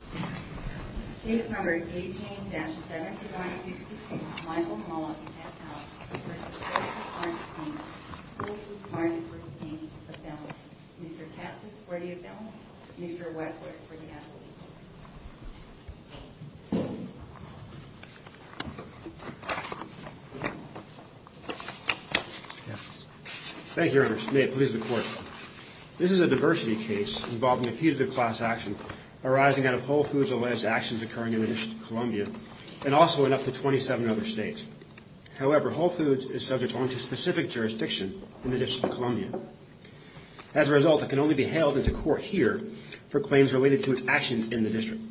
Appellant. Mr. Cassis for the appellant. Mr. Wessler for the appellate. Thank you, Ernest. May it please the Court. This is a diversity case involving a few-to-the-class action arising out of Whole Foods' alleged actions occurring in the District of Columbia and also in up to 27 other states. However, Whole Foods is subject only to specific jurisdiction in the District of Columbia. As a result, it can only be hailed into court here for claims related to its actions in the District.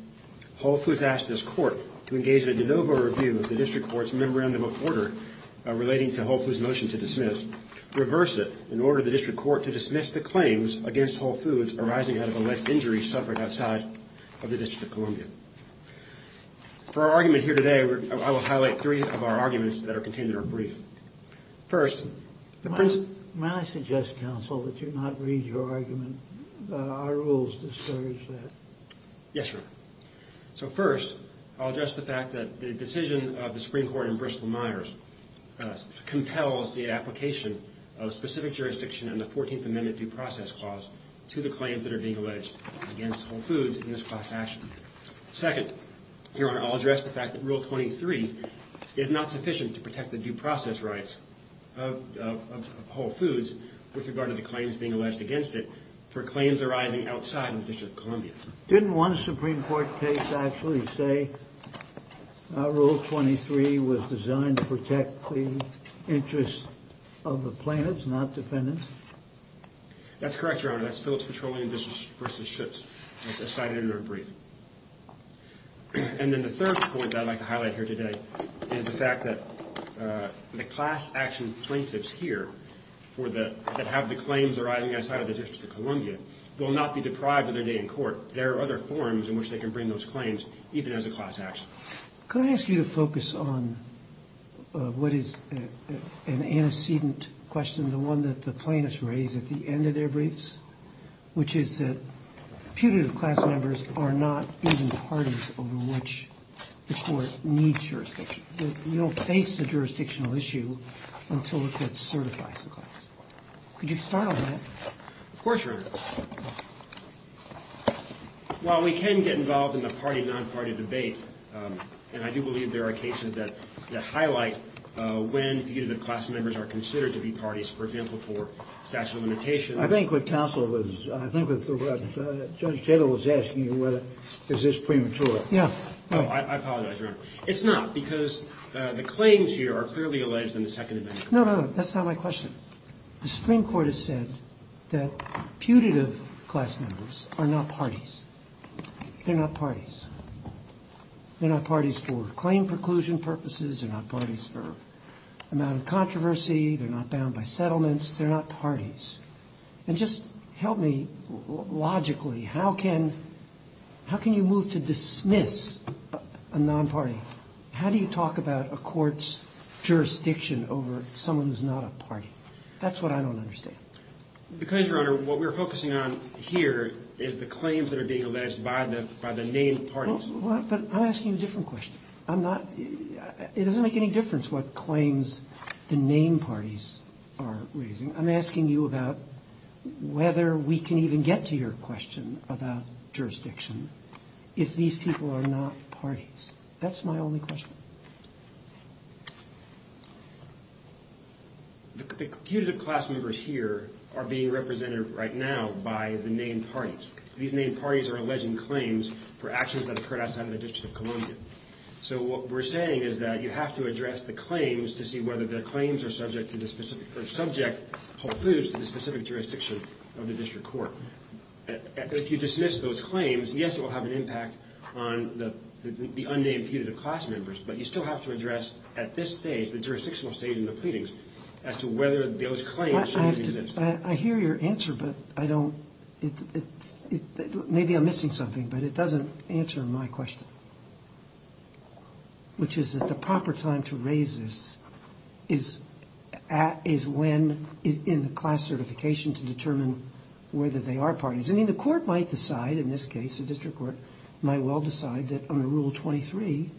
Whole Foods asked this Court to engage in a de novo review of the District Court's memorandum of order relating to Whole Foods' motion to dismiss, in order the District Court to dismiss the claims against Whole Foods arising out of alleged injuries suffered outside of the District of Columbia. For our argument here today, I will highlight three of our arguments that are contained in our brief. First, the principle... May I suggest, Counsel, that you not read your argument? Our rules discourage that. Yes, Your Honor. So first, I'll address the fact that the decision of the Supreme Court in Bristol-Myers compels the application of specific jurisdiction in the 14th Amendment due process clause to the claims that are being alleged against Whole Foods in this class action. Second, Your Honor, I'll address the fact that Rule 23 is not sufficient to protect the due process rights of Whole Foods with regard to the claims being alleged against it for claims arising outside of the District of Columbia. Didn't one Supreme Court case actually say Rule 23 was designed to protect the interests of the plaintiffs, not defendants? That's correct, Your Honor. That's Phillips Petroleum v. Schutz, as cited in our brief. And then the third point that I'd like to highlight here today is the fact that the class action plaintiffs here that have the claims arising outside of the District of Columbia will not be deprived of their day in court. There are other forms in which they can bring those claims, even as a class action. Could I ask you to focus on what is an antecedent question, the one that the plaintiffs raise at the end of their briefs, which is that putative class members are not even the parties over which the court needs jurisdiction. You don't face a jurisdictional issue until the court certifies the class. Could you start on that? Of course, Your Honor. While we can get involved in the party-nonparty debate, and I do believe there are cases that highlight when putative class members are considered to be parties, for example, for statute of limitations. I think what counsel was – I think Judge Taylor was asking you whether this is premature. I apologize, Your Honor. It's not, because the claims here are clearly alleged in the Second Amendment. No, no, no. That's not my question. The Supreme Court has said that putative class members are not parties. They're not parties. They're not parties for claim preclusion purposes. They're not parties for amount of controversy. They're not bound by settlements. They're not parties. And just help me logically. How can you move to dismiss a nonparty? How do you talk about a court's jurisdiction over someone who's not a party? That's what I don't understand. Because, Your Honor, what we're focusing on here is the claims that are being alleged by the named parties. But I'm asking you a different question. I'm not – it doesn't make any difference what claims the named parties are raising. I'm asking you about whether we can even get to your question about jurisdiction if these people are not parties. That's my only question. The putative class members here are being represented right now by the named parties. These named parties are alleging claims for actions that occurred outside of the District of Columbia. So what we're saying is that you have to address the claims to see whether their claims are subject to the specific – or subject Whole Foods to the specific jurisdiction of the district court. If you dismiss those claims, yes, it will have an impact on the unnamed putative class members. But you still have to address at this stage, the jurisdictional stage in the pleadings, as to whether those claims should be dismissed. I hear your answer, but I don't – maybe I'm missing something, but it doesn't answer my question, which is that the proper time to raise this is when – is in the class certification to determine whether they are parties. I mean, the court might decide in this case, the district court might well decide that under Rule 23,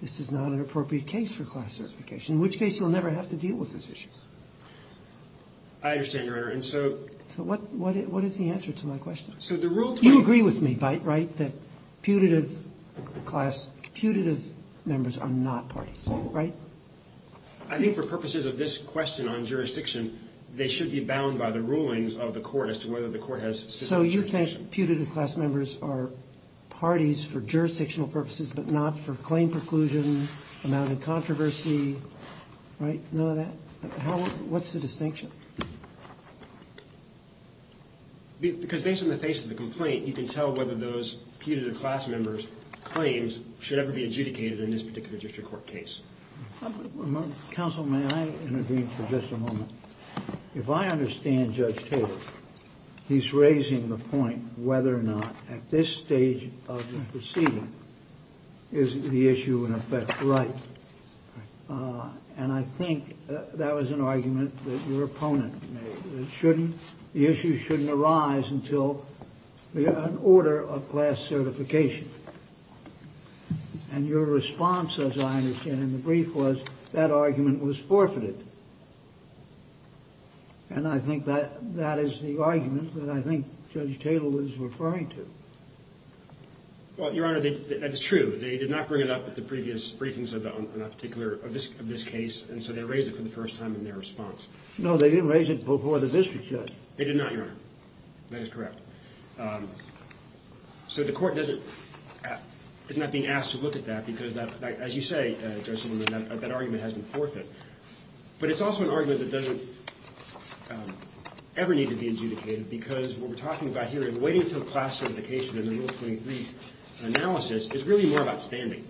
this is not an appropriate case for class certification, in which case you'll never have to deal with this issue. I understand, Your Honor, and so – So what is the answer to my question? So the Rule 23 – You agree with me, right, that putative class – putative members are not parties, right? I think for purposes of this question on jurisdiction, they should be bound by the rulings of the court as to whether the court has specific jurisdiction. So you think putative class members are parties for jurisdictional purposes, but not for claim preclusion, amount of controversy, right? None of that? What's the distinction? Because based on the face of the complaint, you can tell whether those putative class members' claims should ever be adjudicated in this particular district court case. Counsel, may I intervene for just a moment? If I understand Judge Taylor, he's raising the point whether or not at this stage of the proceeding is the issue in effect right. And I think that was an argument that your opponent made. It shouldn't – the issue shouldn't arise until an order of class certification. And your response, as I understand it in the brief, was that argument was forfeited. And I think that is the argument that I think Judge Taylor was referring to. Well, Your Honor, that's true. They did not bring it up at the previous briefings of this case, and so they raised it for the first time in their response. No, they didn't raise it before the district judge. They did not, Your Honor. That is correct. So the court is not being asked to look at that because, as you say, Judge Silverman, that argument has been forfeited. But it's also an argument that doesn't ever need to be adjudicated because what we're talking about here in waiting until class certification in the Rule 23 analysis is really more about standing.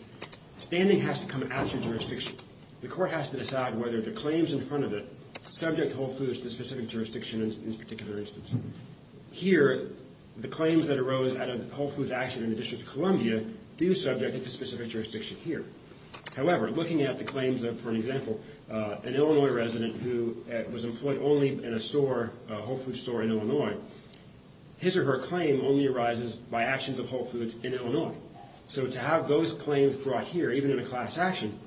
Standing has to come after jurisdiction. The court has to decide whether the claims in front of it subject Whole Foods to specific jurisdiction in this particular instance. Here, the claims that arose out of Whole Foods' action in the District of Columbia do subject it to specific jurisdiction here. However, looking at the claims of, for example, an Illinois resident who was employed only in a store, a Whole Foods store in Illinois, his or her claim only arises by actions of Whole Foods in Illinois. So to have those claims brought here, even in a class action,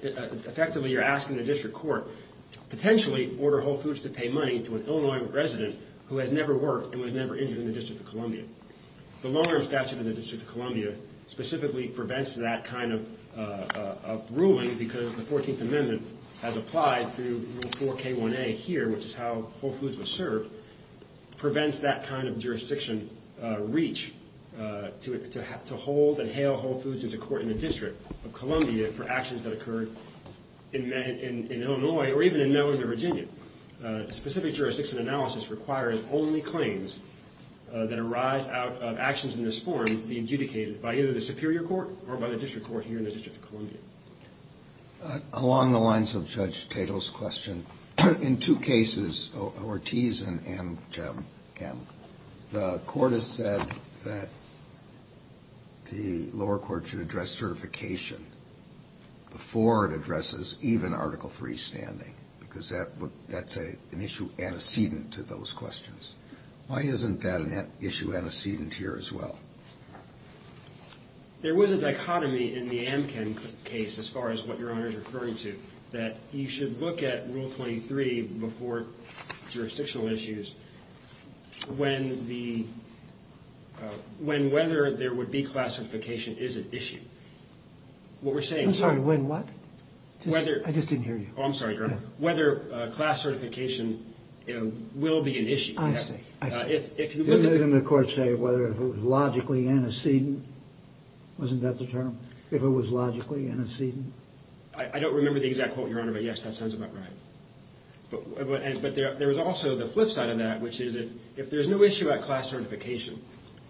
effectively you're asking the district court potentially order Whole Foods to pay money to an Illinois resident who has never worked and was never injured in the District of Columbia. The longer statute in the District of Columbia specifically prevents that kind of ruling because the 14th Amendment as applied through Rule 4k1a here, which is how Whole Foods was served, prevents that kind of jurisdiction reach to hold and hail Whole Foods into court in the District of Columbia for actions that occurred in Illinois or even in Northern Virginia. Specific jurisdiction analysis requires only claims that arise out of actions in this form be adjudicated by either the superior court or by the district court here in the District of Columbia. Along the lines of Judge Tatel's question, in two cases, Ortiz and Kamm, the court has said that the lower court should address certification before it addresses even Article III standing because that's an issue antecedent to those questions. Why isn't that an issue antecedent here as well? There was a dichotomy in the Amkin case as far as what Your Honor is referring to, that you should look at Rule 23 before jurisdictional issues when whether there would be classification is at issue. What we're saying is... I'm sorry, when what? I just didn't hear you. I'm sorry, Your Honor, whether class certification will be an issue. I see, I see. Didn't the court say whether it was logically antecedent? Wasn't that the term? If it was logically antecedent? I don't remember the exact quote, Your Honor, but yes, that sounds about right. But there was also the flip side of that, which is if there's no issue about class certification,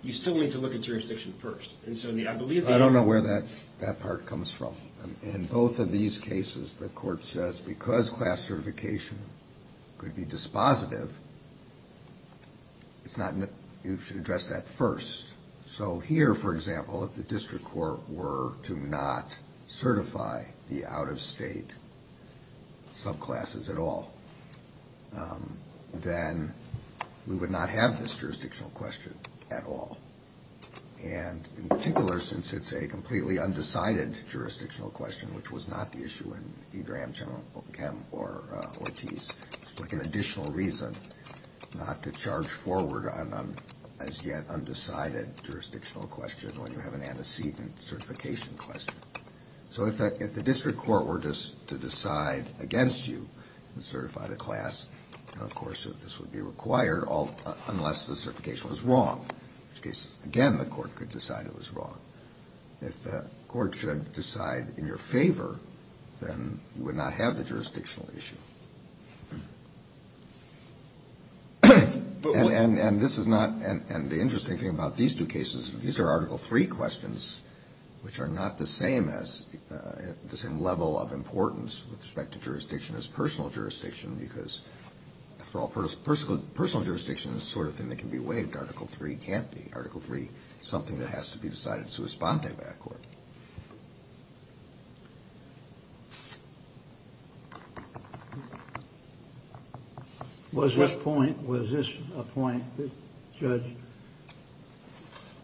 you still need to look at jurisdiction first. I don't know where that part comes from. In both of these cases, the court says because class certification could be dispositive, you should address that first. So here, for example, if the district court were to not certify the out-of-state subclasses at all, then we would not have this jurisdictional question at all. And in particular, since it's a completely undecided jurisdictional question, which was not the issue in either Amcham or Ortiz, it's like an additional reason not to charge forward on an as-yet undecided jurisdictional question when you have an antecedent certification question. So if the district court were to decide against you to certify the class, of course, this would be required unless the certification was wrong. In which case, again, the court could decide it was wrong. If the court should decide in your favor, then you would not have the jurisdictional issue. And this is not the interesting thing about these two cases. These are Article III questions, which are not the same level of importance with respect to jurisdiction as personal jurisdiction because, after all, personal jurisdiction is the sort of thing that can be waived. Article III can't be. Article III is something that has to be decided in sua sponte by a court. Was this point, was this a point that Judge,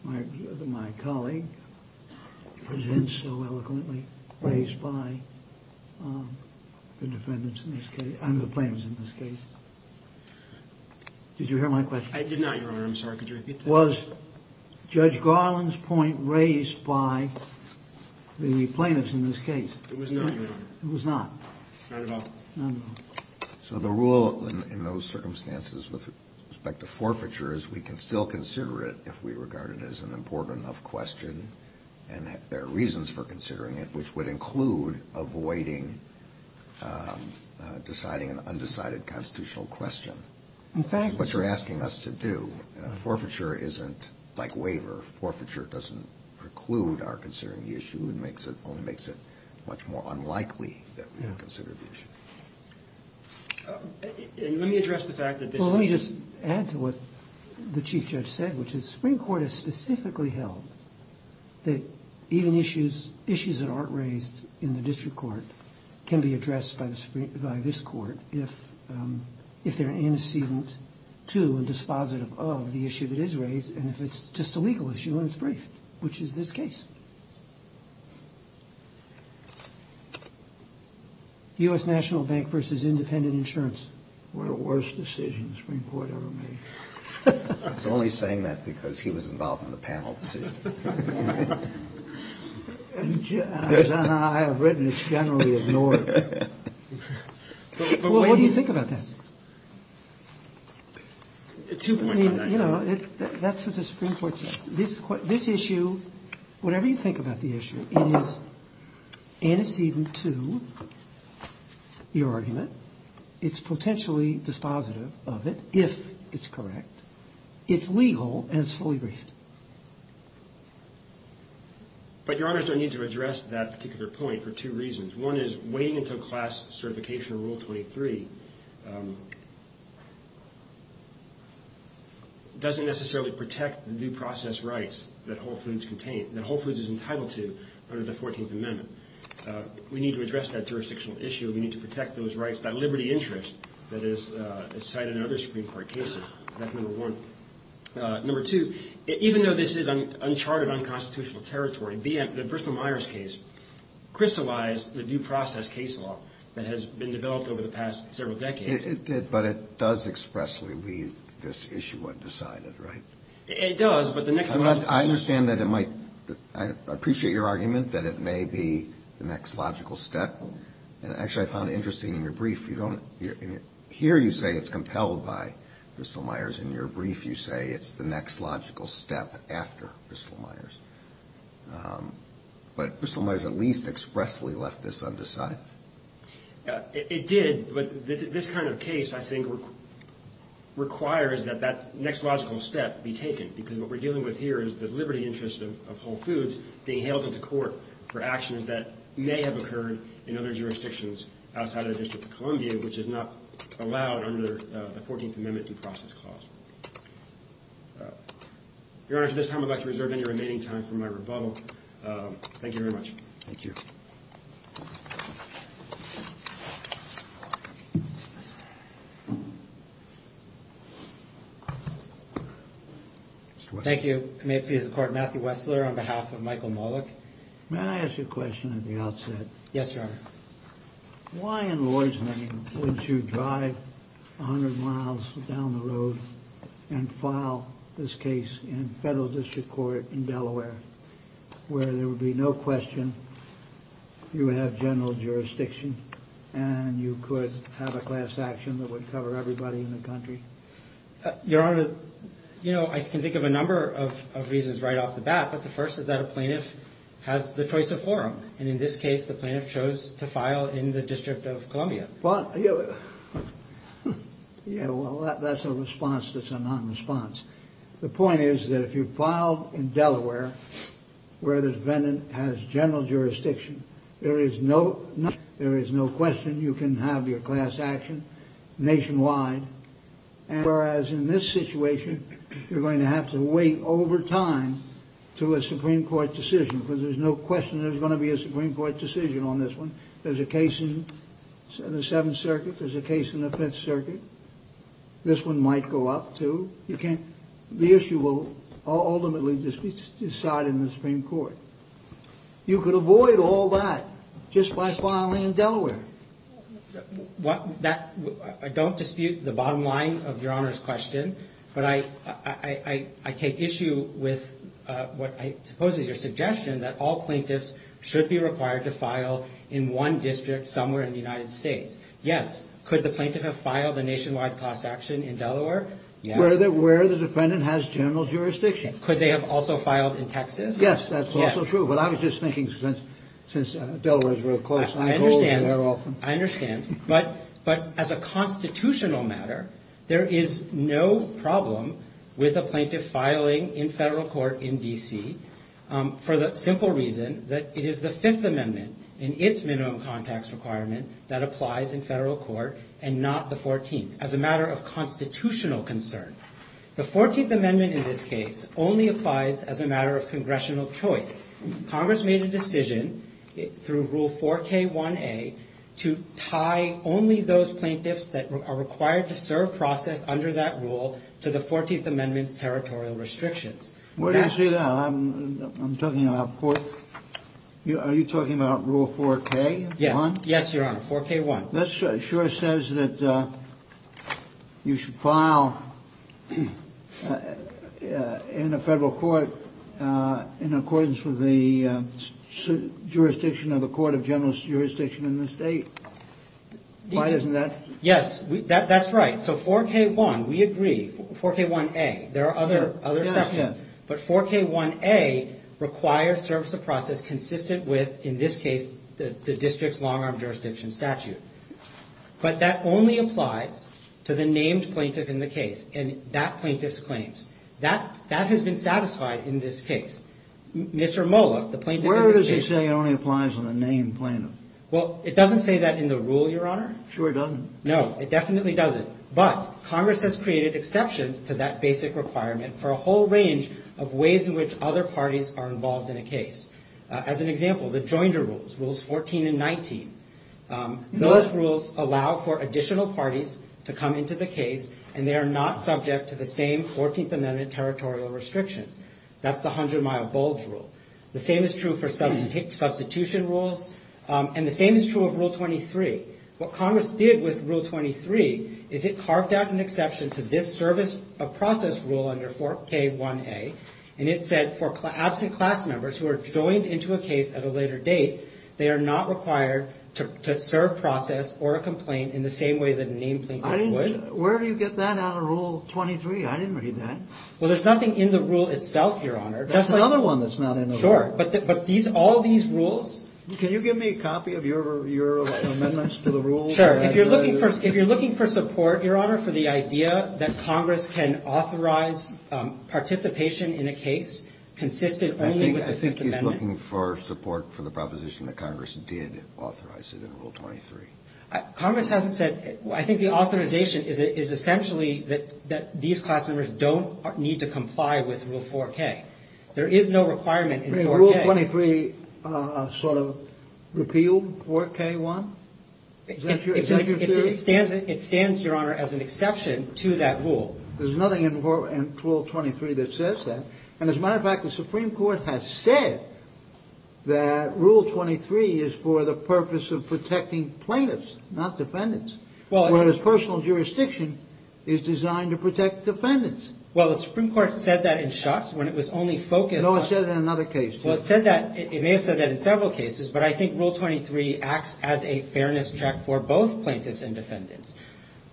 my colleague, presents so eloquently raised by the defendants in this case, and the plaintiffs in this case? Did you hear my question? I did not, Your Honor. I'm sorry. Could you repeat that? Was Judge Garland's point raised by the plaintiffs in this case? It was not, Your Honor. It was not? Not at all. Not at all. So the rule in those circumstances with respect to forfeiture is we can still consider it if we regard it as an important enough question, and there are reasons for considering it, which would include avoiding deciding an undecided constitutional question. In fact, what you're asking us to do, forfeiture isn't like waiver. Forfeiture doesn't preclude our considering the issue. It only makes it much more unlikely that we would consider the issue. Let me address the fact that this is a... Well, let me just add to what the Chief Judge said, which is the Supreme Court has specifically held that even issues that aren't raised in the district court can be addressed by this Court if they're antecedent to and dispositive of the issue that is raised, and if it's just a legal issue and it's brief, which is this case. U.S. National Bank versus independent insurance. What a worst decision the Supreme Court ever made. It's only saying that because he was involved in the panel decision. As I have written, it's generally ignored. Well, what do you think about that? I mean, you know, that's what the Supreme Court says. This issue, whatever you think about the issue, it is antecedent to your argument. It's potentially dispositive of it if it's correct. It's legal and it's fully briefed. But, Your Honors, I need to address that particular point for two reasons. One is waiting until class certification of Rule 23 doesn't necessarily protect the due process rights that Whole Foods is entitled to under the 14th Amendment. We need to address that jurisdictional issue. We need to protect those rights, that liberty interest that is cited in other Supreme Court cases. That's number one. Number two, even though this is uncharted, unconstitutional territory, the Bristol-Myers case crystallized the due process case law that has been developed over the past several decades. It did, but it does expressly leave this issue undecided, right? It does, but the next logical step. I understand that it might. I appreciate your argument that it may be the next logical step. Actually, I found it interesting in your brief. Here you say it's compelled by Bristol-Myers. In your brief you say it's the next logical step after Bristol-Myers. But Bristol-Myers at least expressly left this undecided. It did, but this kind of case, I think, requires that that next logical step be taken because what we're dealing with here is the liberty interest of Whole Foods being hailed into court for actions that may have occurred in other jurisdictions outside of the District of Columbia, which is not allowed under the 14th Amendment due process clause. Your Honor, at this time I'd like to reserve any remaining time for my rebuttal. Thank you very much. Thank you. Thank you. May it please the Court, Matthew Wessler on behalf of Michael Mollick. May I ask you a question at the outset? Yes, Your Honor. Why in Lord's name would you drive 100 miles down the road and file this case in federal district court in Delaware where there would be no question you have general jurisdiction and you could have a class action that would cover everybody in the country? Your Honor, you know, I can think of a number of reasons right off the bat, but the first is that a plaintiff has the choice of forum. And in this case, the plaintiff chose to file in the District of Columbia. Yeah, well, that's a response that's a non-response. The point is that if you filed in Delaware where the defendant has general jurisdiction, there is no question you can have your class action nationwide. Whereas in this situation, you're going to have to wait over time to a Supreme Court decision because there's no question there's going to be a Supreme Court decision on this one. There's a case in the Seventh Circuit. There's a case in the Fifth Circuit. This one might go up, too. You can't. The issue will ultimately be decided in the Supreme Court. You could avoid all that just by filing in Delaware. I don't dispute the bottom line of Your Honor's question, but I take issue with what I suppose is your suggestion that all plaintiffs should be required to file in one district somewhere in the United States. Yes. Could the plaintiff have filed a nationwide class action in Delaware? Yes. Where the defendant has general jurisdiction. Could they have also filed in Texas? Yes, that's also true. But I was just thinking since Delaware is real close. I understand. I understand. But as a constitutional matter, there is no problem with a plaintiff filing in federal court in D.C. for the simple reason that it is the Fifth Amendment in its minimum context requirement that applies in federal court and not the Fourteenth as a matter of constitutional concern. The Fourteenth Amendment in this case only applies as a matter of congressional choice. Congress made a decision through Rule 4K1A to tie only those plaintiffs that are required to serve process under that rule to the Fourteenth Amendment's territorial restrictions. Where do you see that? I'm talking about court. Are you talking about Rule 4K1? Yes. Yes, Your Honor, 4K1. That sure says that you should file in a federal court in accordance with the jurisdiction of the court of general jurisdiction in the state. Why isn't that? Yes, that's right. So 4K1, we agree. 4K1A. There are other sections. But 4K1A requires service of process consistent with, in this case, the district's long-arm jurisdiction statute. But that only applies to the named plaintiff in the case and that plaintiff's claims. That has been satisfied in this case. Mr. Moloch, the plaintiff in the case. Where does he say it only applies on a named plaintiff? Well, it doesn't say that in the rule, Your Honor. Sure it doesn't. No, it definitely doesn't. But Congress has created exceptions to that basic requirement for a whole range of ways in which other parties are involved in a case. As an example, the Joinder Rules, Rules 14 and 19. Those rules allow for additional parties to come into the case, and they are not subject to the same 14th Amendment territorial restrictions. That's the 100-mile bulge rule. The same is true for substitution rules. And the same is true of Rule 23. What Congress did with Rule 23 is it carved out an exception to this service of process rule under 4K1A, and it said for absent class members who are joined into a case at a later date, they are not required to serve process or a complaint in the same way that a named plaintiff would. Where do you get that out of Rule 23? I didn't read that. Well, there's nothing in the rule itself, Your Honor. There's another one that's not in the rule. Sure, but all these rules? Can you give me a copy of your amendments to the rules? Sure. If you're looking for support, Your Honor, for the idea that Congress can authorize participation in a case consistent only with the 5th Amendment. I think he's looking for support for the proposition that Congress did authorize it in Rule 23. Congress hasn't said. I think the authorization is essentially that these class members don't need to comply with Rule 4K. There is no requirement in Rule 4K. Rule 23 sort of repealed 4K1? Is that your theory? It stands, Your Honor, as an exception to that rule. There's nothing in Rule 23 that says that. And as a matter of fact, the Supreme Court has said that Rule 23 is for the purpose of protecting plaintiffs, not defendants, whereas personal jurisdiction is designed to protect defendants. Well, the Supreme Court said that in Schutz when it was only focused on – No, it said it in another case, too. Well, it said that – it may have said that in several cases, but I think Rule 23 acts as a fairness check for both plaintiffs and defendants.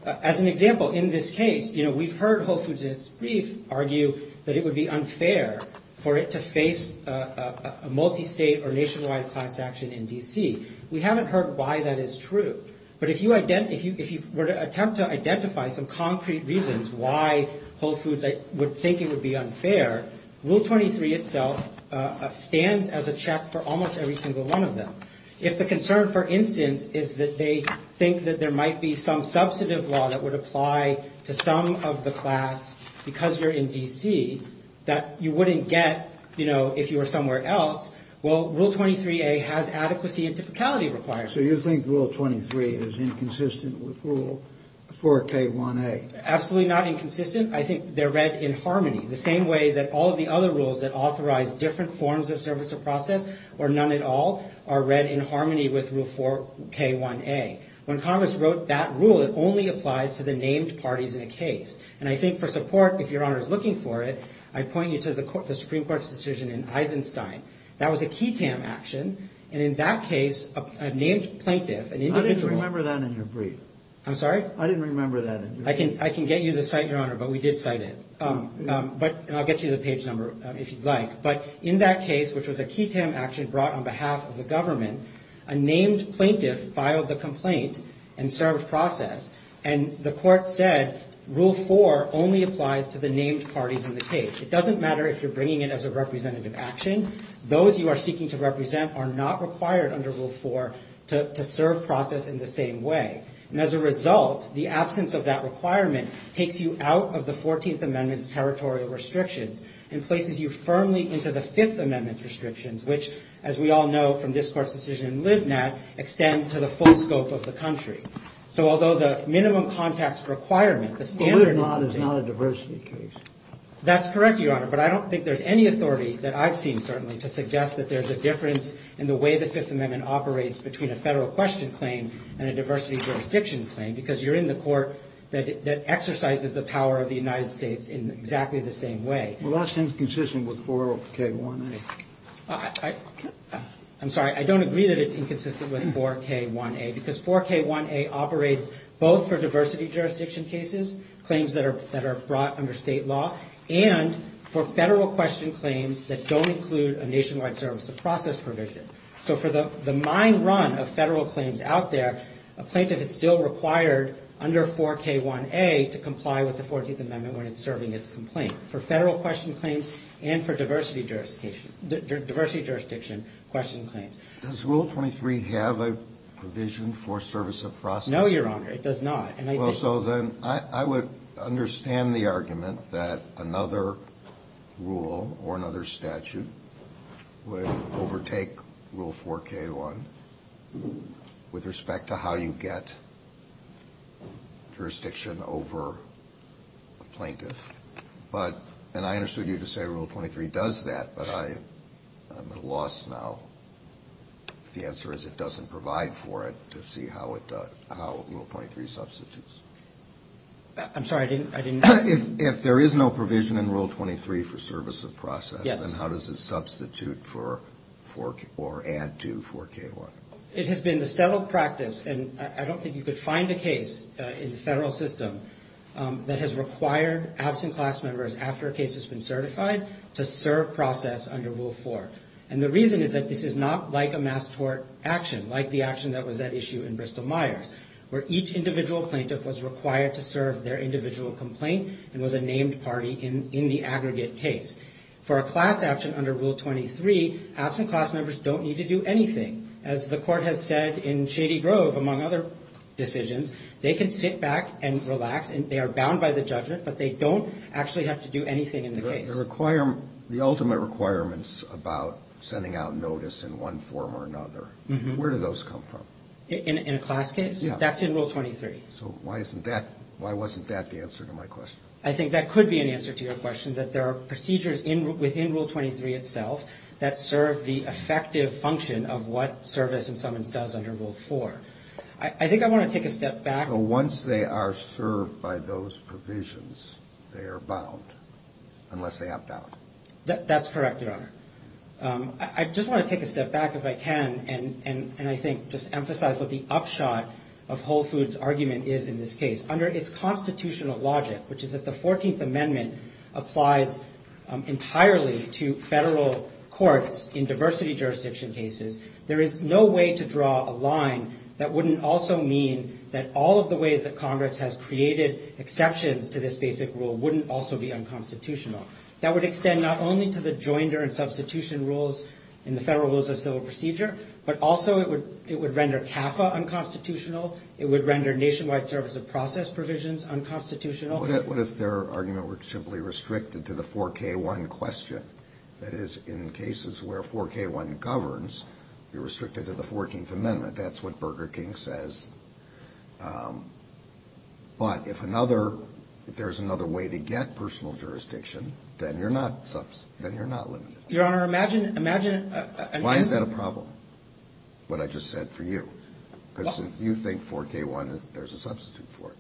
As an example, in this case, you know, we've heard Whole Foods in its brief argue that it would be unfair for it to face a multistate or nationwide class action in D.C. We haven't heard why that is true. But if you were to attempt to identify some concrete reasons why Whole Foods would think it would be unfair, Rule 23 itself stands as a check for almost every single one of them. If the concern, for instance, is that they think that there might be some substantive law that would apply to some of the class because you're in D.C. that you wouldn't get, you know, if you were somewhere else, well, Rule 23a has adequacy and typicality requirements. So you think Rule 23 is inconsistent with Rule 4k1a? Absolutely not inconsistent. I think they're read in harmony, the same way that all of the other rules that authorize different forms of service or process or none at all are read in harmony with Rule 4k1a. When Congress wrote that rule, it only applies to the named parties in a case. And I think for support, if Your Honor is looking for it, I point you to the Supreme Court's decision in Eisenstein. That was a key tam action. And in that case, a named plaintiff, an individual. I didn't remember that in your brief. I'm sorry? I didn't remember that. I can get you the cite, Your Honor, but we did cite it. But I'll get you the page number if you'd like. But in that case, which was a key tam action brought on behalf of the government, a named plaintiff filed the complaint and served process. And the court said Rule 4 only applies to the named parties in the case. It doesn't matter if you're bringing it as a representative action. Those you are seeking to represent are not required under Rule 4 to serve process in the same way. And as a result, the absence of that requirement takes you out of the 14th Amendment's territorial restrictions and places you firmly into the Fifth Amendment restrictions, which, as we all know from this court's decision in Livnat, extend to the full scope of the country. So although the minimum context requirement, the standard in this case. Well, Livnat is not a diversity case. That's correct, Your Honor. But I don't think there's any authority that I've seen, certainly, to suggest that there's a difference in the way the Fifth Amendment operates between a federal question claim and a diversity jurisdiction claim because you're in the court that exercises the power of the United States in exactly the same way. Well, that's inconsistent with 4K1A. I'm sorry. I don't agree that it's inconsistent with 4K1A because 4K1A operates both for diversity jurisdiction cases, claims that are brought under state law, and for federal question claims that don't include a nationwide service of process provision. So for the mine run of federal claims out there, a plaintiff is still required under 4K1A to comply with the 14th Amendment when it's serving its complaint for federal question claims and for diversity jurisdiction question claims. Does Rule 23 have a provision for service of process? No, Your Honor. It does not. Well, so then I would understand the argument that another rule or another statute would overtake Rule 4K1 with respect to how you get jurisdiction over a plaintiff. And I understood you to say Rule 23 does that, but I'm at a loss now if the answer is it doesn't provide for it to see how Rule 23 substitutes. I'm sorry. I didn't. If there is no provision in Rule 23 for service of process, then how does it substitute for or add to 4K1? It has been the settled practice, and I don't think you could find a case in the federal system that has required absent class members after a case has been certified to serve process under Rule 4. And the reason is that this is not like a mass tort action, like the action that was at issue in Bristol-Myers, where each individual plaintiff was required to serve their individual complaint and was a named party in the aggregate case. For a class action under Rule 23, absent class members don't need to do anything. As the Court has said in Shady Grove, among other decisions, they can sit back and relax, and they are bound by the judgment, but they don't actually have to do anything in the case. The ultimate requirements about sending out notice in one form or another, where do those come from? In a class case? Yeah. That's in Rule 23. So why wasn't that the answer to my question? I think that could be an answer to your question, that there are procedures within Rule 23 itself that serve the effective function of what service and summons does under Rule 4. I think I want to take a step back. So once they are served by those provisions, they are bound, unless they opt out. That's correct, Your Honor. I just want to take a step back, if I can, and I think just emphasize what the upshot of Whole Foods' argument is in this case. Under its constitutional logic, which is that the 14th Amendment applies entirely to federal courts in diversity jurisdiction cases, there is no way to draw a line that wouldn't also mean that all of the ways that Congress has created exceptions to this basic rule wouldn't also be unconstitutional. That would extend not only to the joinder and substitution rules in the Federal Rules of Civil Procedure, but also it would render CAFA unconstitutional, it would render nationwide service of process provisions unconstitutional. What if their argument were simply restricted to the 4K1 question? That is, in cases where 4K1 governs, you're restricted to the 14th Amendment. That's what Burger King says. But if another, if there's another way to get personal jurisdiction, then you're not limited. Your Honor, imagine. Why is that a problem, what I just said for you? Because you think 4K1, there's a substitute for it.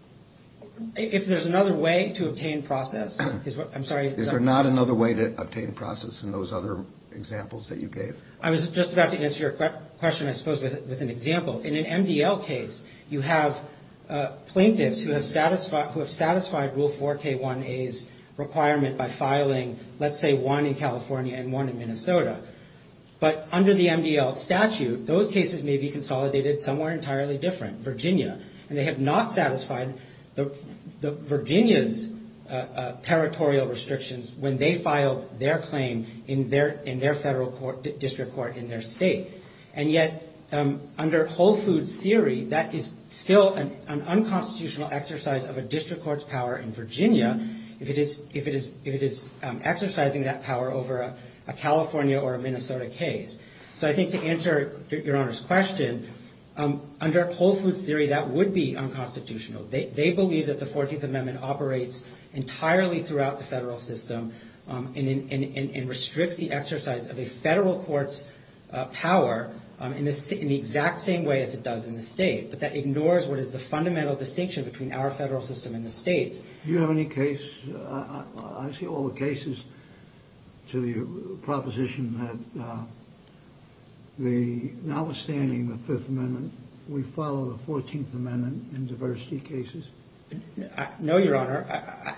If there's another way to obtain process, I'm sorry. Is there not another way to obtain process in those other examples that you gave? I was just about to answer your question, I suppose, with an example. In an MDL case, you have plaintiffs who have satisfied Rule 4K1A's requirement by filing, let's say, one in California and one in Minnesota. But under the MDL statute, those cases may be consolidated somewhere entirely different, Virginia. And they have not satisfied Virginia's territorial restrictions when they filed their claim in their Federal District Court in their state. And yet, under Whole Foods' theory, that is still an unconstitutional exercise of a district court's power in Virginia, if it is exercising that power over a California or a Minnesota case. So I think to answer your Honor's question, under Whole Foods' theory, that would be unconstitutional. They believe that the 14th Amendment operates entirely throughout the federal system and restricts the exercise of a federal court's power in the exact same way as it does in the state. But that ignores what is the fundamental distinction between our federal system and the state's. Do you have any case? I see all the cases to the proposition that notwithstanding the Fifth Amendment, we follow the 14th Amendment in diversity cases. No, Your Honor.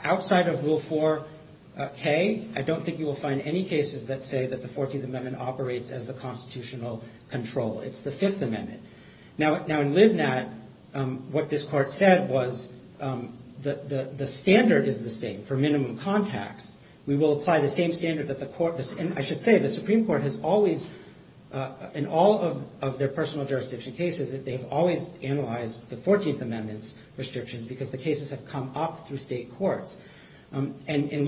Outside of Rule 4K, I don't think you will find any cases that say that the 14th Amendment operates as the constitutional control. It's the Fifth Amendment. Now, in Livnat, what this Court said was the standard is the same for minimum contacts. We will apply the same standard that the Court – and I should say, the Supreme Court has always, in all of their personal jurisdiction cases, that they've always analyzed the 14th Amendment's restrictions because the cases have come up through state courts. In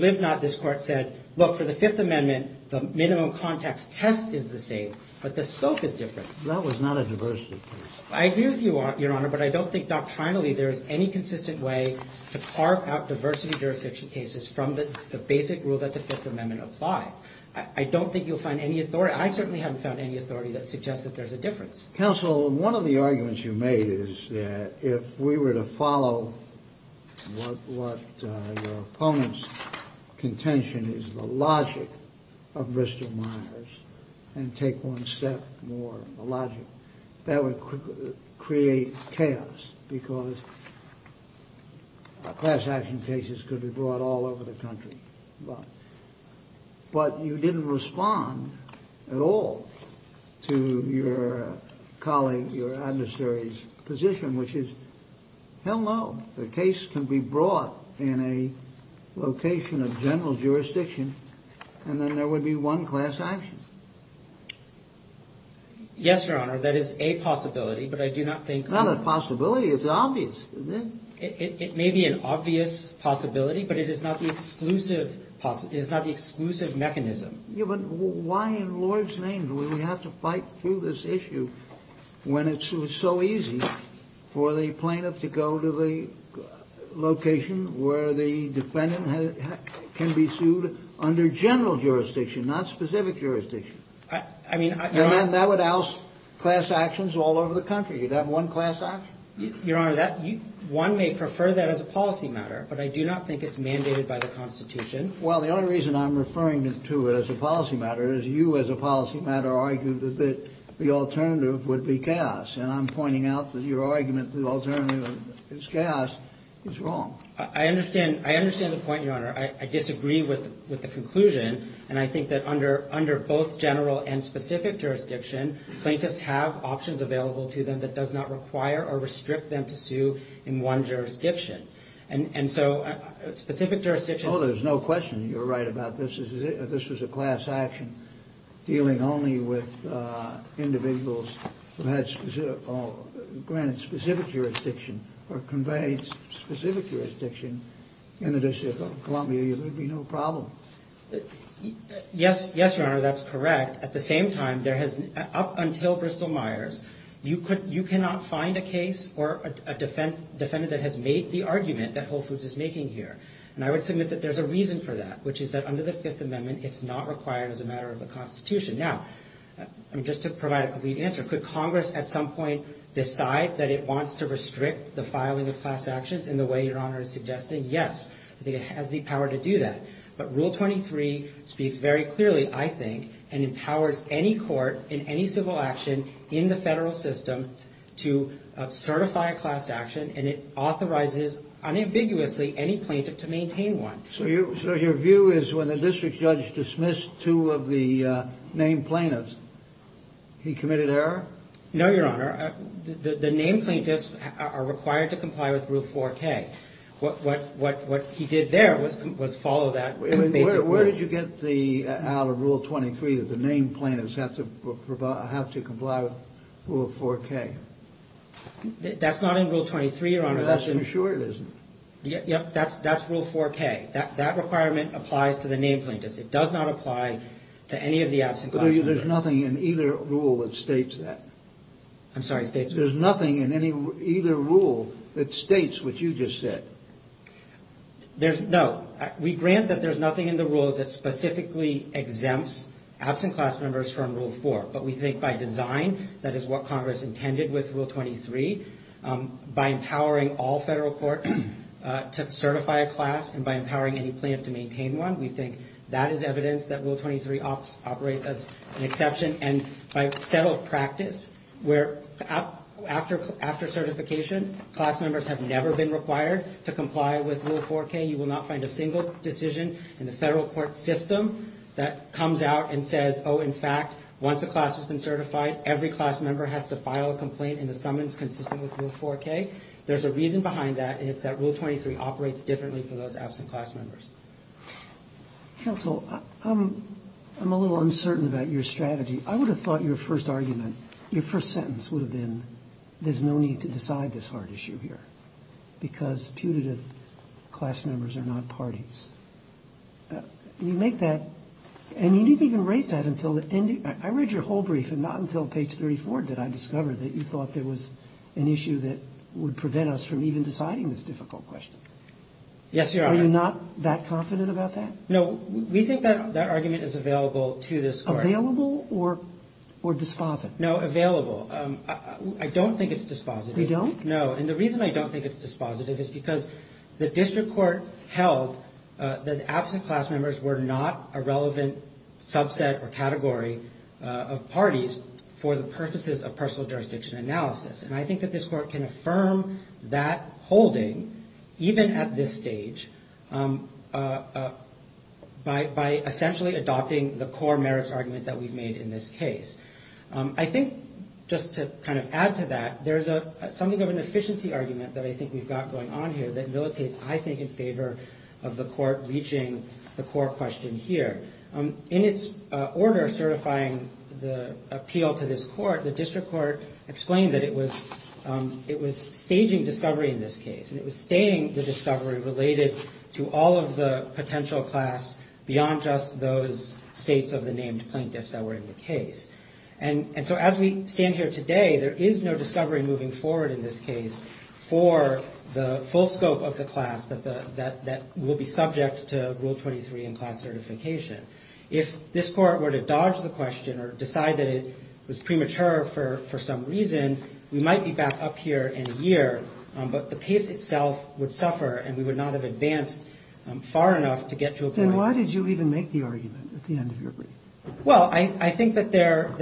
Livnat, this Court said, look, for the Fifth Amendment, the minimum contacts test is the same, but the scope is different. That was not a diversity case. I agree with you, Your Honor, but I don't think doctrinally there is any consistent way to carve out diversity jurisdiction cases from the basic rule that the Fifth Amendment applies. I don't think you'll find any authority. I certainly haven't found any authority that suggests that there's a difference. Counsel, one of the arguments you made is that if we were to follow what your opponent's contention is, the logic of Bristol-Myers, and take one step more in the logic, that would create chaos because class action cases could be brought all over the country. But you didn't respond at all to your colleague, your adversary's position, which is, hell no, the case can be brought in a location of general jurisdiction, and then there would be one class action. Yes, Your Honor, that is a possibility, but I do not think – It's not a possibility, it's obvious. It may be an obvious possibility, but it is not the exclusive mechanism. Yeah, but why in Lord's name do we have to fight through this issue when it's so easy for the plaintiff to go to the location where the defendant can be sued under general jurisdiction, not specific jurisdiction? I mean – And then that would oust class actions all over the country. You'd have one class action. Your Honor, one may prefer that as a policy matter, but I do not think it's mandated by the Constitution. Well, the only reason I'm referring to it as a policy matter is you, as a policy matter, argue that the alternative would be chaos, and I'm pointing out that your argument that the alternative is chaos is wrong. I understand the point, Your Honor. I disagree with the conclusion, and I think that under both general and specific jurisdiction, plaintiffs have options available to them that does not require or restrict them to sue in one jurisdiction. And so specific jurisdictions – Oh, there's no question you're right about this. This was a class action dealing only with individuals who had specific – granted specific jurisdiction or conveyed specific jurisdiction in the District of Columbia. There would be no problem. Yes, Your Honor, that's correct. At the same time, there has – up until Bristol-Myers, you cannot find a case or a defendant that has made the argument that Whole Foods is making here. And I would submit that there's a reason for that, which is that under the Fifth Amendment, it's not required as a matter of the Constitution. Now, just to provide a complete answer, could Congress at some point decide that it wants to restrict the filing of class actions in the way Your Honor is suggesting? Yes, I think it has the power to do that. But Rule 23 speaks very clearly, I think, and empowers any court in any civil action in the federal system to certify a class action, and it authorizes unambiguously any plaintiff to maintain one. So your view is when the district judge dismissed two of the named plaintiffs, he committed error? No, Your Honor. The named plaintiffs are required to comply with Rule 4K. What he did there was follow that basic rule. Where did you get out of Rule 23 that the named plaintiffs have to comply with Rule 4K? That's not in Rule 23, Your Honor. That's for sure it isn't. Yep, that's Rule 4K. That requirement applies to the named plaintiffs. It does not apply to any of the absent class plaintiffs. But there's nothing in either rule that states that. I'm sorry, states what? There's nothing in either rule that states what you just said. No. We grant that there's nothing in the rules that specifically exempts absent class members from Rule 4. But we think by design, that is what Congress intended with Rule 23, by empowering all federal courts to certify a class and by empowering any plaintiff to maintain one, we think that is evidence that Rule 23 operates as an exception. And by set of practice, where after certification, class members have never been required to comply with Rule 4K, you will not find a single decision in the federal court system that comes out and says, oh, in fact, once a class has been certified, every class member has to file a complaint in the summons consistent with Rule 4K. There's a reason behind that, and it's that Rule 23 operates differently for those absent class members. Counsel, I'm a little uncertain about your strategy. I would have thought your first argument, your first sentence would have been, there's no need to decide this hard issue here because putative class members are not parties. You make that, and you didn't even raise that until the end. I read your whole brief, and not until page 34 did I discover that you thought there was an issue that would prevent us from even deciding this difficult question. Yes, Your Honor. Are you not that confident about that? No, we think that argument is available to this court. Available or dispositive? No, available. I don't think it's dispositive. You don't? No, and the reason I don't think it's dispositive is because the district court held that absent class members were not a relevant subset or category of parties for the purposes of personal jurisdiction analysis. And I think that this court can affirm that holding, even at this stage, by essentially adopting the core merits argument that we've made in this case. I think, just to kind of add to that, there's something of an efficiency argument that I think we've got going on here that militates, I think, in favor of the court reaching the core question here. In its order certifying the appeal to this court, the district court explained that it was staging discovery in this case, and it was staying the discovery related to all of the potential class beyond just those states of the named plaintiffs that were in the case. And so as we stand here today, there is no discovery moving forward in this case for the full scope of the class that will be subject to Rule 23 in class certification. If this court were to dodge the question or decide that it was premature for some reason, we might be back up here in a year, but the case itself would suffer, and we would not have advanced far enough to get to a point. Then why did you even make the argument at the end of your brief? Well, I think that there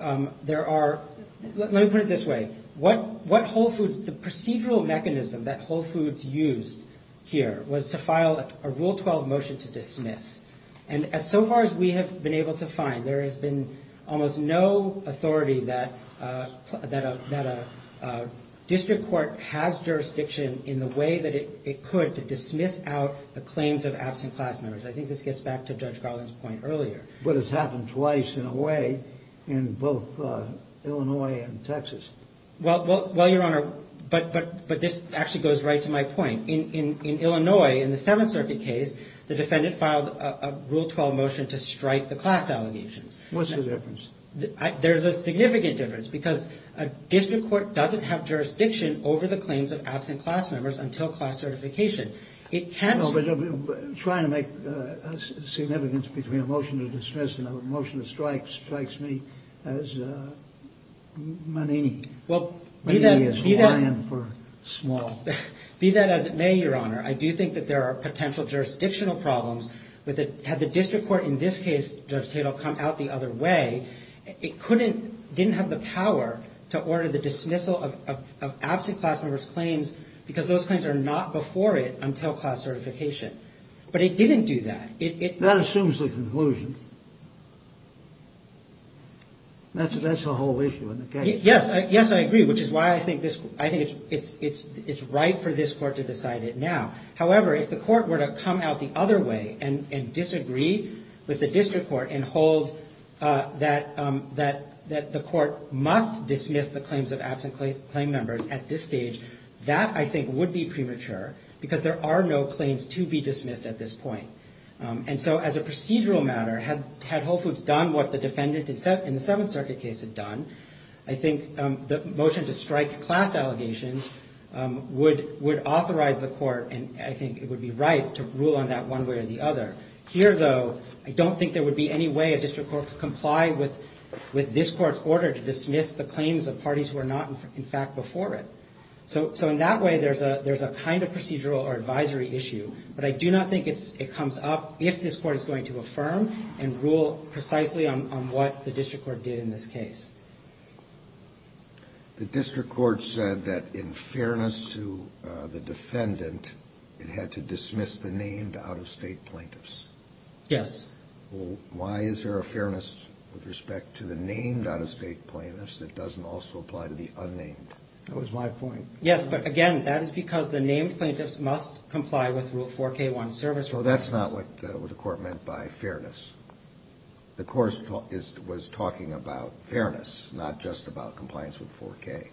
are – let me put it this way. What Whole Foods – the procedural mechanism that Whole Foods used here was to file a Rule 12 motion to dismiss. And so far as we have been able to find, there has been almost no authority that a district court has jurisdiction in the way that it could to dismiss out the claims of absent class members. I think this gets back to Judge Garland's point earlier. But it's happened twice in a way in both Illinois and Texas. Well, Your Honor, but this actually goes right to my point. In Illinois, in the Seventh Circuit case, the defendant filed a Rule 12 motion to strike the class allegations. What's the difference? There's a significant difference because a district court doesn't have jurisdiction over the claims of absent class members until class certification. No, but trying to make significance between a motion to dismiss and a motion to strike strikes me as manini. Manini is Hawaiian for small. Be that as it may, Your Honor, I do think that there are potential jurisdictional problems. Had the district court in this case, Judge Tatel, come out the other way, it couldn't – didn't have the power to order the dismissal of absent class members' claims because those claims are not before it until class certification. But it didn't do that. That assumes the conclusion. That's the whole issue in the case. Yes. Yes, I agree, which is why I think this – I think it's right for this court to decide it now. However, if the court were to come out the other way and disagree with the district court and hold that the court must dismiss the claims of absent claim members at this stage, that, I think, would be premature because there are no claims to be dismissed at this point. And so as a procedural matter, had Whole Foods done what the defendant in the Seventh Circuit case had done, I think the motion to strike class allegations would authorize the court, and I think it would be right to rule on that one way or the other. Here, though, I don't think there would be any way a district court could comply with this court's order to dismiss the claims of parties who are not, in fact, before it. So in that way, there's a kind of procedural or advisory issue, but I do not think it comes up if this court is going to affirm and rule precisely on what the district court did in this case. The district court said that in fairness to the defendant, it had to dismiss the named out-of-state plaintiffs. Yes. Why is there a fairness with respect to the named out-of-state plaintiffs that doesn't also apply to the unnamed? That was my point. Yes, but again, that is because the named plaintiffs must comply with Rule 4K1 service requirements. Well, that's not what the court meant by fairness. The court was talking about fairness, not just about compliance with 4K.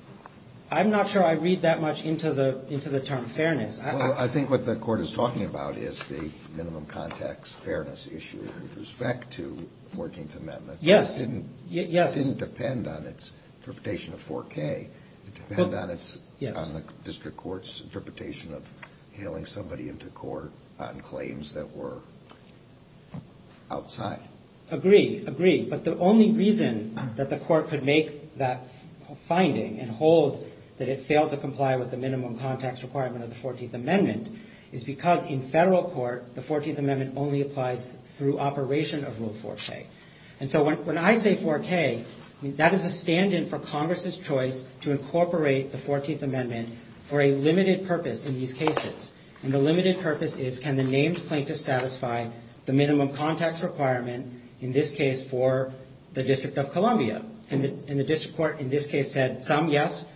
I'm not sure I read that much into the term fairness. I think what the court is talking about is the minimum context fairness issue with respect to 14th Amendment. Yes. It didn't depend on its interpretation of 4K. It depended on the district court's interpretation of hailing somebody into court on claims that were outside. Agreed, agreed. But the only reason that the court could make that finding and hold that it failed to comply with the minimum context requirement of the 14th Amendment is because in federal court, the 14th Amendment only applies through operation of Rule 4K. And so when I say 4K, that is a stand-in for Congress's choice to incorporate the 14th Amendment for a limited purpose in these cases. And the limited purpose is can the named plaintiffs satisfy the minimum context requirement, in this case, for the District of Columbia? And the district court in this case said some yes,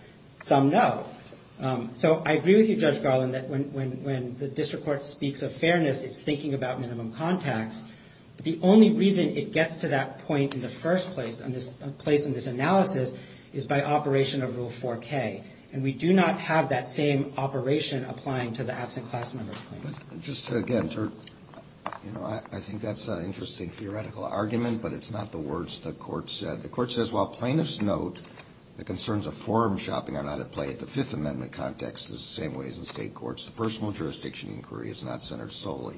some no. So I agree with you, Judge Garland, that when the district court speaks of fairness, it's thinking about minimum context. The only reason it gets to that point in the first place in this analysis is by operation of Rule 4K. And we do not have that same operation applying to the absent class member claims. Just again, I think that's an interesting theoretical argument, but it's not the words the court said. The court says, while plaintiffs note the concerns of forum shopping are not at play at the Fifth Amendment context, this is the same way as in State courts. The personal jurisdiction inquiry is not centered solely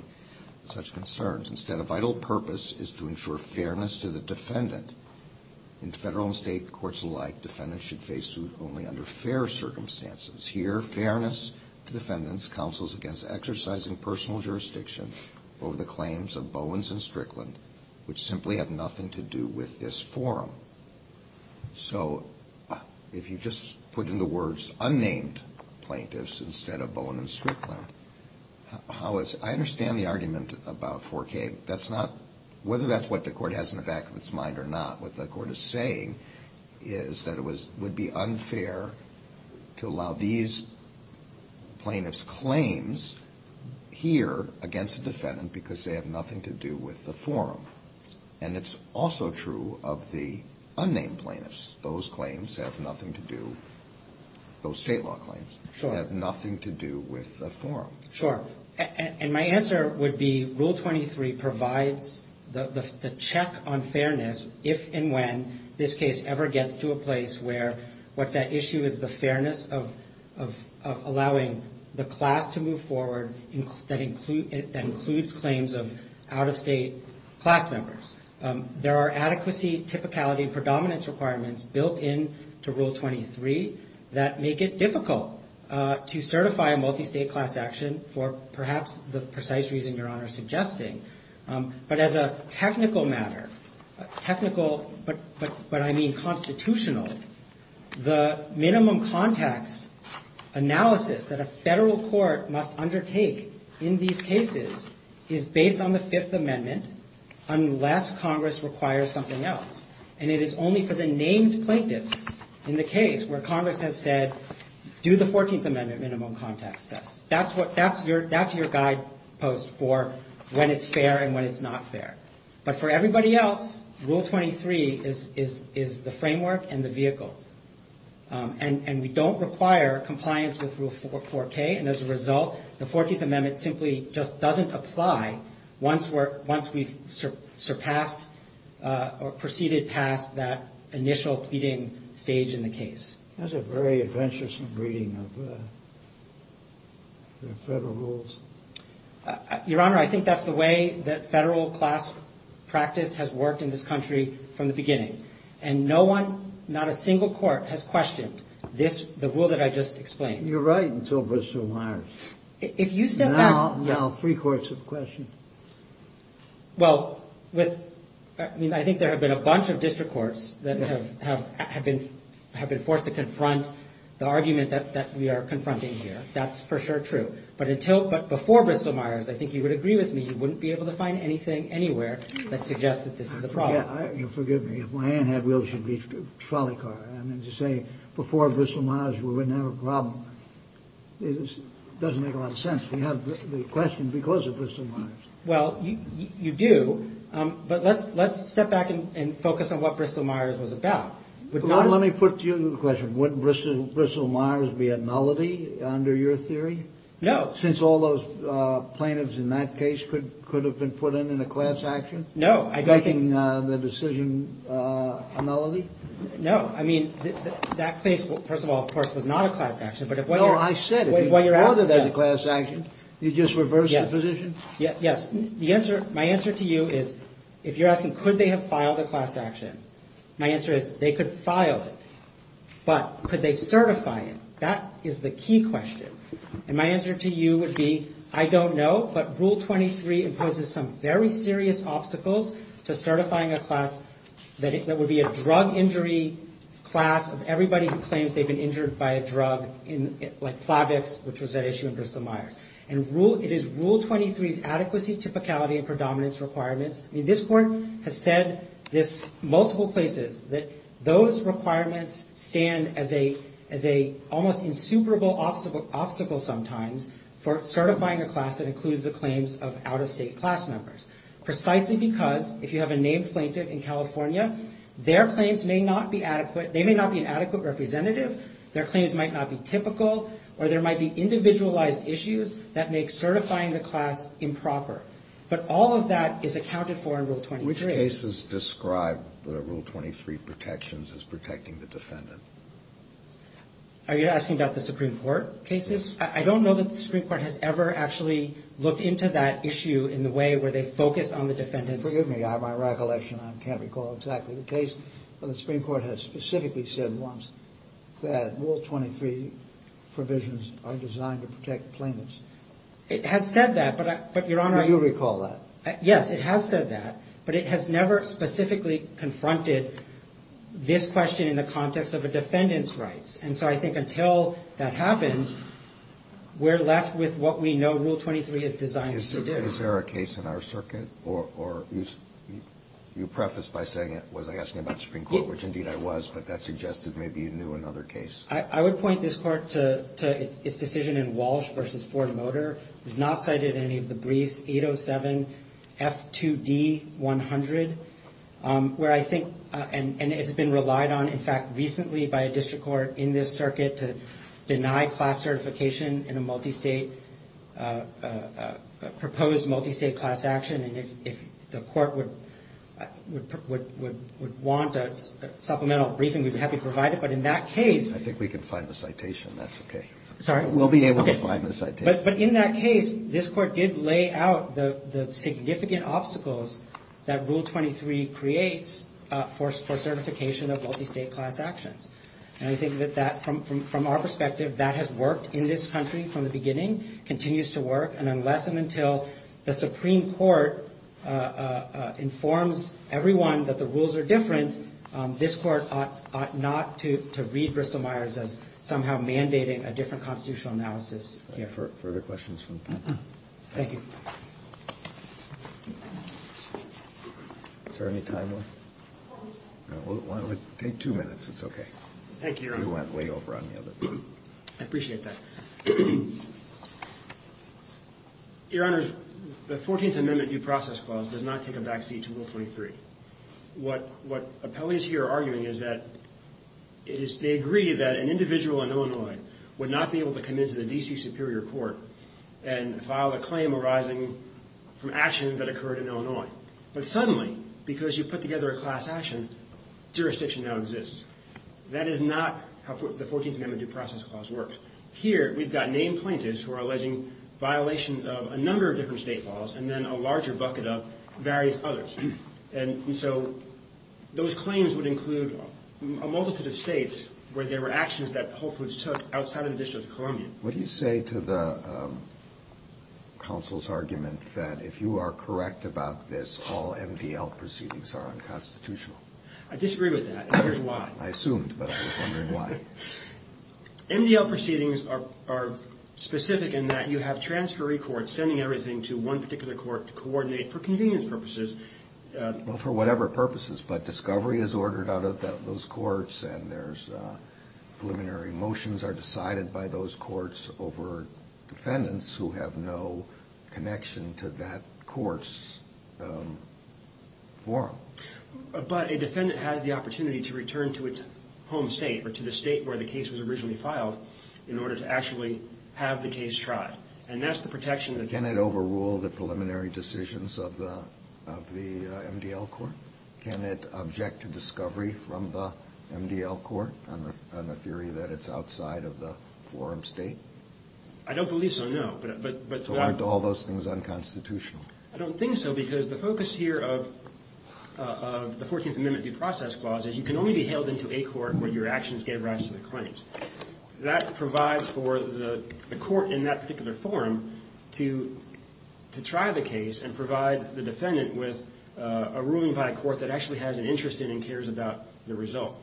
on such concerns. Instead, a vital purpose is to ensure fairness to the defendant. In Federal and State courts alike, defendants should face suit only under fair circumstances. Here, fairness to defendants counsels against exercising personal jurisdiction over the claims of Bowens and Strickland, which simply have nothing to do with this forum. So if you just put in the words unnamed plaintiffs instead of Bowens and Strickland, I understand the argument about 4K. Whether that's what the court has in the back of its mind or not, what the court is saying is that it would be unfair to allow these plaintiffs' claims here against the defendant because they have nothing to do with the forum. And it's also true of the unnamed plaintiffs. Those claims have nothing to do, those State law claims, have nothing to do with the forum. Sure. And my answer would be Rule 23 provides the check on fairness if and when this case ever gets to a place where what's at issue is the fairness of allowing the class to move forward that includes claims of out-of-State class members. There are adequacy, typicality, and predominance requirements built into Rule 23 that make it difficult to certify a multi-State class action for perhaps the precise reason Your Honor is suggesting. But as a technical matter, technical, but I mean constitutional, the minimum context analysis that a federal court must undertake in these cases is based on the Fifth Amendment unless Congress requires something else. And it is only for the named plaintiffs in the case where Congress has said, do the Fourteenth Amendment minimum context test. That's your guidepost for when it's fair and when it's not fair. But for everybody else, Rule 23 is the framework and the vehicle. And we don't require compliance with Rule 4K. And as a result, the Fourteenth Amendment simply just doesn't apply once we've surpassed or proceeded past that initial pleading stage in the case. That's a very adventuresome reading of the federal rules. Your Honor, I think that's the way that federal class practice has worked in this country from the beginning. And no one, not a single court, has questioned this, the rule that I just explained. You're right until Mr. Myers. Now three courts have questioned. I mean, I think there have been a bunch of district courts that have been forced to confront the argument that we are confronting here. That's for sure true. But before Bristol Myers, I think you would agree with me, you wouldn't be able to find anything anywhere that suggests that this is a problem. Forgive me, if my aunt had wheels, she'd be a trolley car. Before Bristol Myers, we wouldn't have a problem. It doesn't make a lot of sense. We have the question because of Bristol Myers. Let's step back and focus on what Bristol Myers was about. Wouldn't Bristol Myers be a nullity under your theory? No, since all those plaintiffs in that case could could have been put in a class action. No, I don't think the decision. No. I mean, that case, first of all, of course, was not a class action. But if I said what you're asking, that class action, you just reverse the position. Yes. The answer. My answer to you is, if you're asking, could they have filed a class action? My answer is they could file it. But could they certify it? That is the key question. And my answer to you would be, I don't know. But Rule 23 imposes some very serious obstacles to certifying a class that would be a drug injury class of everybody who claims they've been injured by a drug like Plavix, which was at issue in Bristol Myers and rule. It is Rule 23's multiple places that those requirements stand as a as a almost insuperable obstacle, obstacle sometimes for certifying a class that includes the claims of out of state class members, precisely because if you have a named plaintiff in California, their claims may not be adequate. They may not be an adequate representative. Their claims might not be typical or there might be individualized issues that make certifying the class improper. But all of that is accounted for in Rule 23. Which cases describe the Rule 23 protections as protecting the defendant? Are you asking about the Supreme Court cases? I don't know that the Supreme Court has ever actually looked into that issue in the way where they focus on the defendants. Forgive me. I have my recollection. I can't recall exactly the case. But the Supreme Court has specifically said once that Rule 23 provisions are designed to protect plaintiffs. It has said that, but your honor, you recall that? Yes, it has said that, but it has never specifically confronted this question in the context of a defendant's rights. And so I think until that happens, we're left with what we know Rule 23 is designed to do. Is there a case in our circuit or you preface by saying it was asking about the Supreme Court, which says its decision in Walsh v. Ford Motor was not cited in any of the briefs, 807 F2D 100, where I think, and it has been relied on, in fact, recently by a district court in this circuit to deny class certification in a multi-state, a proposed multi-state class action. And if the court would want a supplemental briefing, we'd be happy to provide it. I think we can find the citation. That's okay. But in that case, this court did lay out the significant obstacles that Rule 23 creates for certification of multi-state class actions. And I think that from our perspective, that has worked in this country from the beginning, continues to work. And unless and until the Supreme Court informs everyone that the rules are different, this court ought not to read Bristol-Myers as somehow mandating a different constitutional analysis. Further questions from the panel? Thank you. Is there any time left? We'll take two minutes. It's okay. Thank you, Your Honor. I appreciate that. Your Honor, the 14th Amendment due process clause does not take a backseat to Rule 23. What appellees here are arguing is that they agree that an individual in Illinois would not be able to come into the D.C. Superior Court and file a claim arising from actions that occurred in Illinois. But suddenly, because you put together a class action, jurisdiction now exists. That is not how the 14th Amendment due process clause works. Here, we've got named plaintiffs who are alleging violations of a number of different state laws, and then a larger bucket of various others. And so those claims would include a multitude of states where there were actions that Whole Foods took outside of the District of Columbia. What do you say to the counsel's argument that if you are correct about this, all MDL proceedings are unconstitutional? I disagree with that, and here's why. I assumed, but I was wondering why. MDL proceedings are specific in that you have transferee courts sending everything to one particular court to coordinate for convenience purposes. Well, for whatever purposes, but discovery is ordered out of those courts over defendants who have no connection to that court's forum. But a defendant has the opportunity to return to its home state, or to the state where the case was originally filed, in order to actually have the case tried. And that's the protection that... Can it overrule the preliminary decisions of the MDL court? Can it object to discovery from the MDL court on the theory that it's outside of the forum state? I don't believe so, no. So aren't all those things unconstitutional? I don't think so, because the focus here of the 14th Amendment Due Process Clause is you can only be hailed into a court where your actions gave rise to the claims. That provides for the court in that particular forum to try the case and provide the defendant with a ruling by a court that actually has an interest in and cares about the result.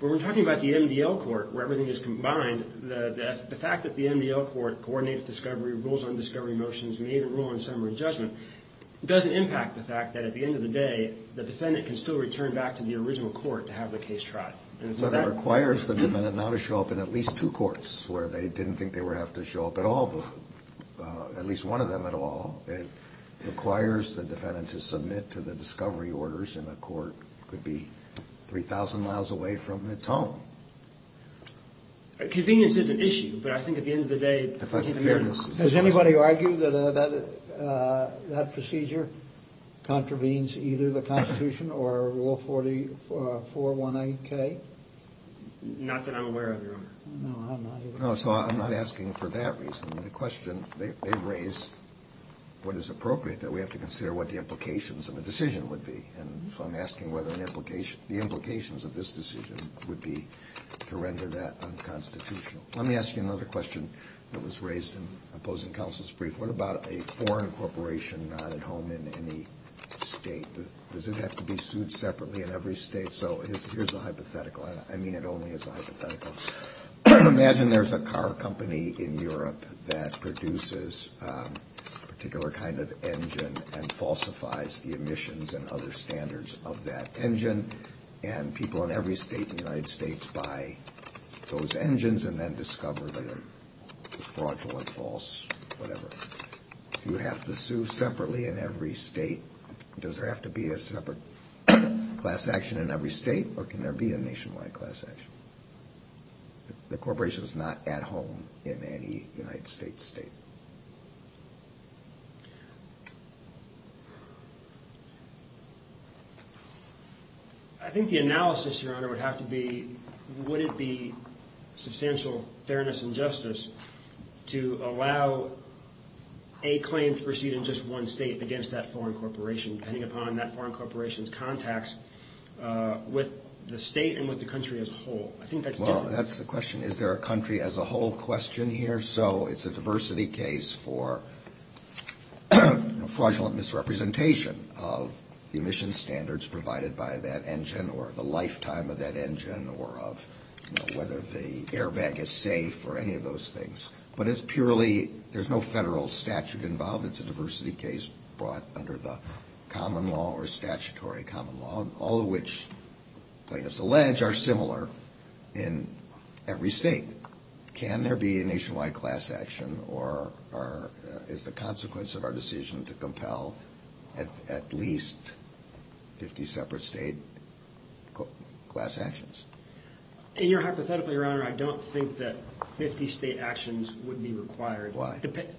But when we're talking about the MDL court, where everything is combined, the fact that the MDL court coordinates discovery, rules on discovery motions, made a rule in summary judgment, doesn't impact the fact that at the end of the day, the defendant can still return back to the original court to have the case tried. So that requires the defendant not to show up in at least two courts where they didn't think they would have to show up at all, at least one of them at all. It requires the defendant to submit to the discovery orders in a court that could be 3,000 miles away from its home. Convenience is an issue, but I think at the end of the day... Does anybody argue that that procedure contravenes either the Constitution or Rule 4418K? Not that I'm aware of, Your Honor. No, so I'm not asking for that reason. The question they've raised, what is appropriate that we have to consider what the implications of a decision would be, and so I'm asking whether the implications of this decision would be to render that unconstitutional. Let me ask you another question that was raised in opposing counsel's brief. What about a foreign corporation not at home in any state? Does it have to be sued separately in every state? So here's a hypothetical, and I mean it only as a hypothetical. Imagine there's a car company in Europe that produces a particular kind of engine and falsifies the emissions and other standards of that engine, and people in every state in the United States buy those engines and then discover that they're fraudulent, false, whatever. Do you have to sue separately in every state? Does there have to be a separate class action in every state, or can there be a nationwide class action? The corporation's not at home in any United States I think the analysis, Your Honor, would have to be, would it be substantial fairness and justice to allow a claim to proceed in just one state against that foreign corporation, depending upon that foreign corporation's contacts with the state and with the country as a whole? Well, that's the question. Is there a country as a whole question here? So it's a diversity case for fraudulent misrepresentation of emissions standards provided by that engine, or the lifetime of that engine, or of whether the airbag is safe, or any of those things. But it's purely, there's no federal statute involved. It's a diversity case brought under the common law or statutory common law, all of which plaintiffs allege are similar in every state. Can there be a nationwide class action, or is the consequence of our decision to allow 50 separate state class actions? Hypothetically, Your Honor, I don't think that 50 state actions would be required. Why? It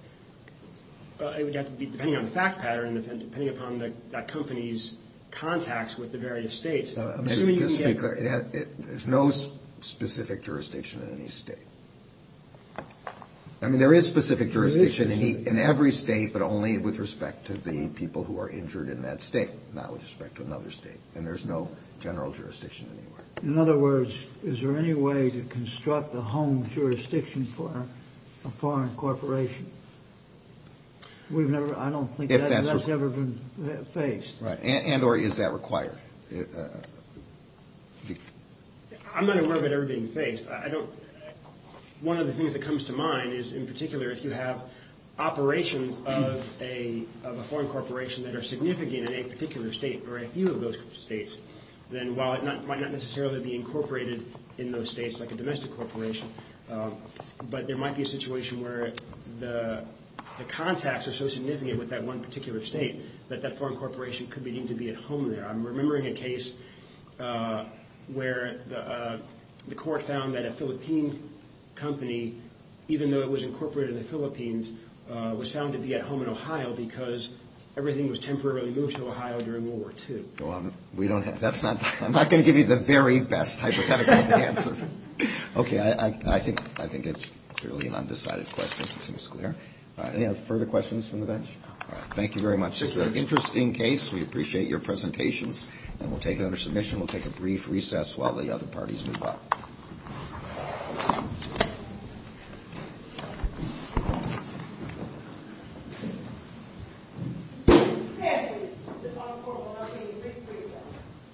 would have to be, depending on the fact pattern, depending upon that company's contacts with the various states. There's no specific jurisdiction in any state. I mean, there is specific jurisdiction in every state, but only with respect to the people who are injured in that state, not with respect to another state. And there's no general jurisdiction anywhere. In other words, is there any way to construct a home jurisdiction for a foreign corporation? I don't think that's ever been faced. And or is that required? I'm not aware of it ever being faced. One of the things that comes to mind is, in particular, if you have operations of a foreign corporation that are significant in a particular state or a few of those states, then while it might not necessarily be incorporated in those states like a domestic corporation, but there might be a situation where the contacts are so significant with that one particular state that that foreign corporation could be deemed to be at home there. I'm remembering a case where the court found that a Philippine company, even though it was incorporated in the Philippines, was found to be at home in Ohio because everything was temporarily moved to Ohio during World War II. I'm not going to give you the very best hypothetical of the answer. Okay. I think it's clearly an undecided question. Further questions from the bench? Thank you very much. This is an interesting case. We appreciate your presentations. And we'll take it under submission. We'll take a brief recess while the other parties move up.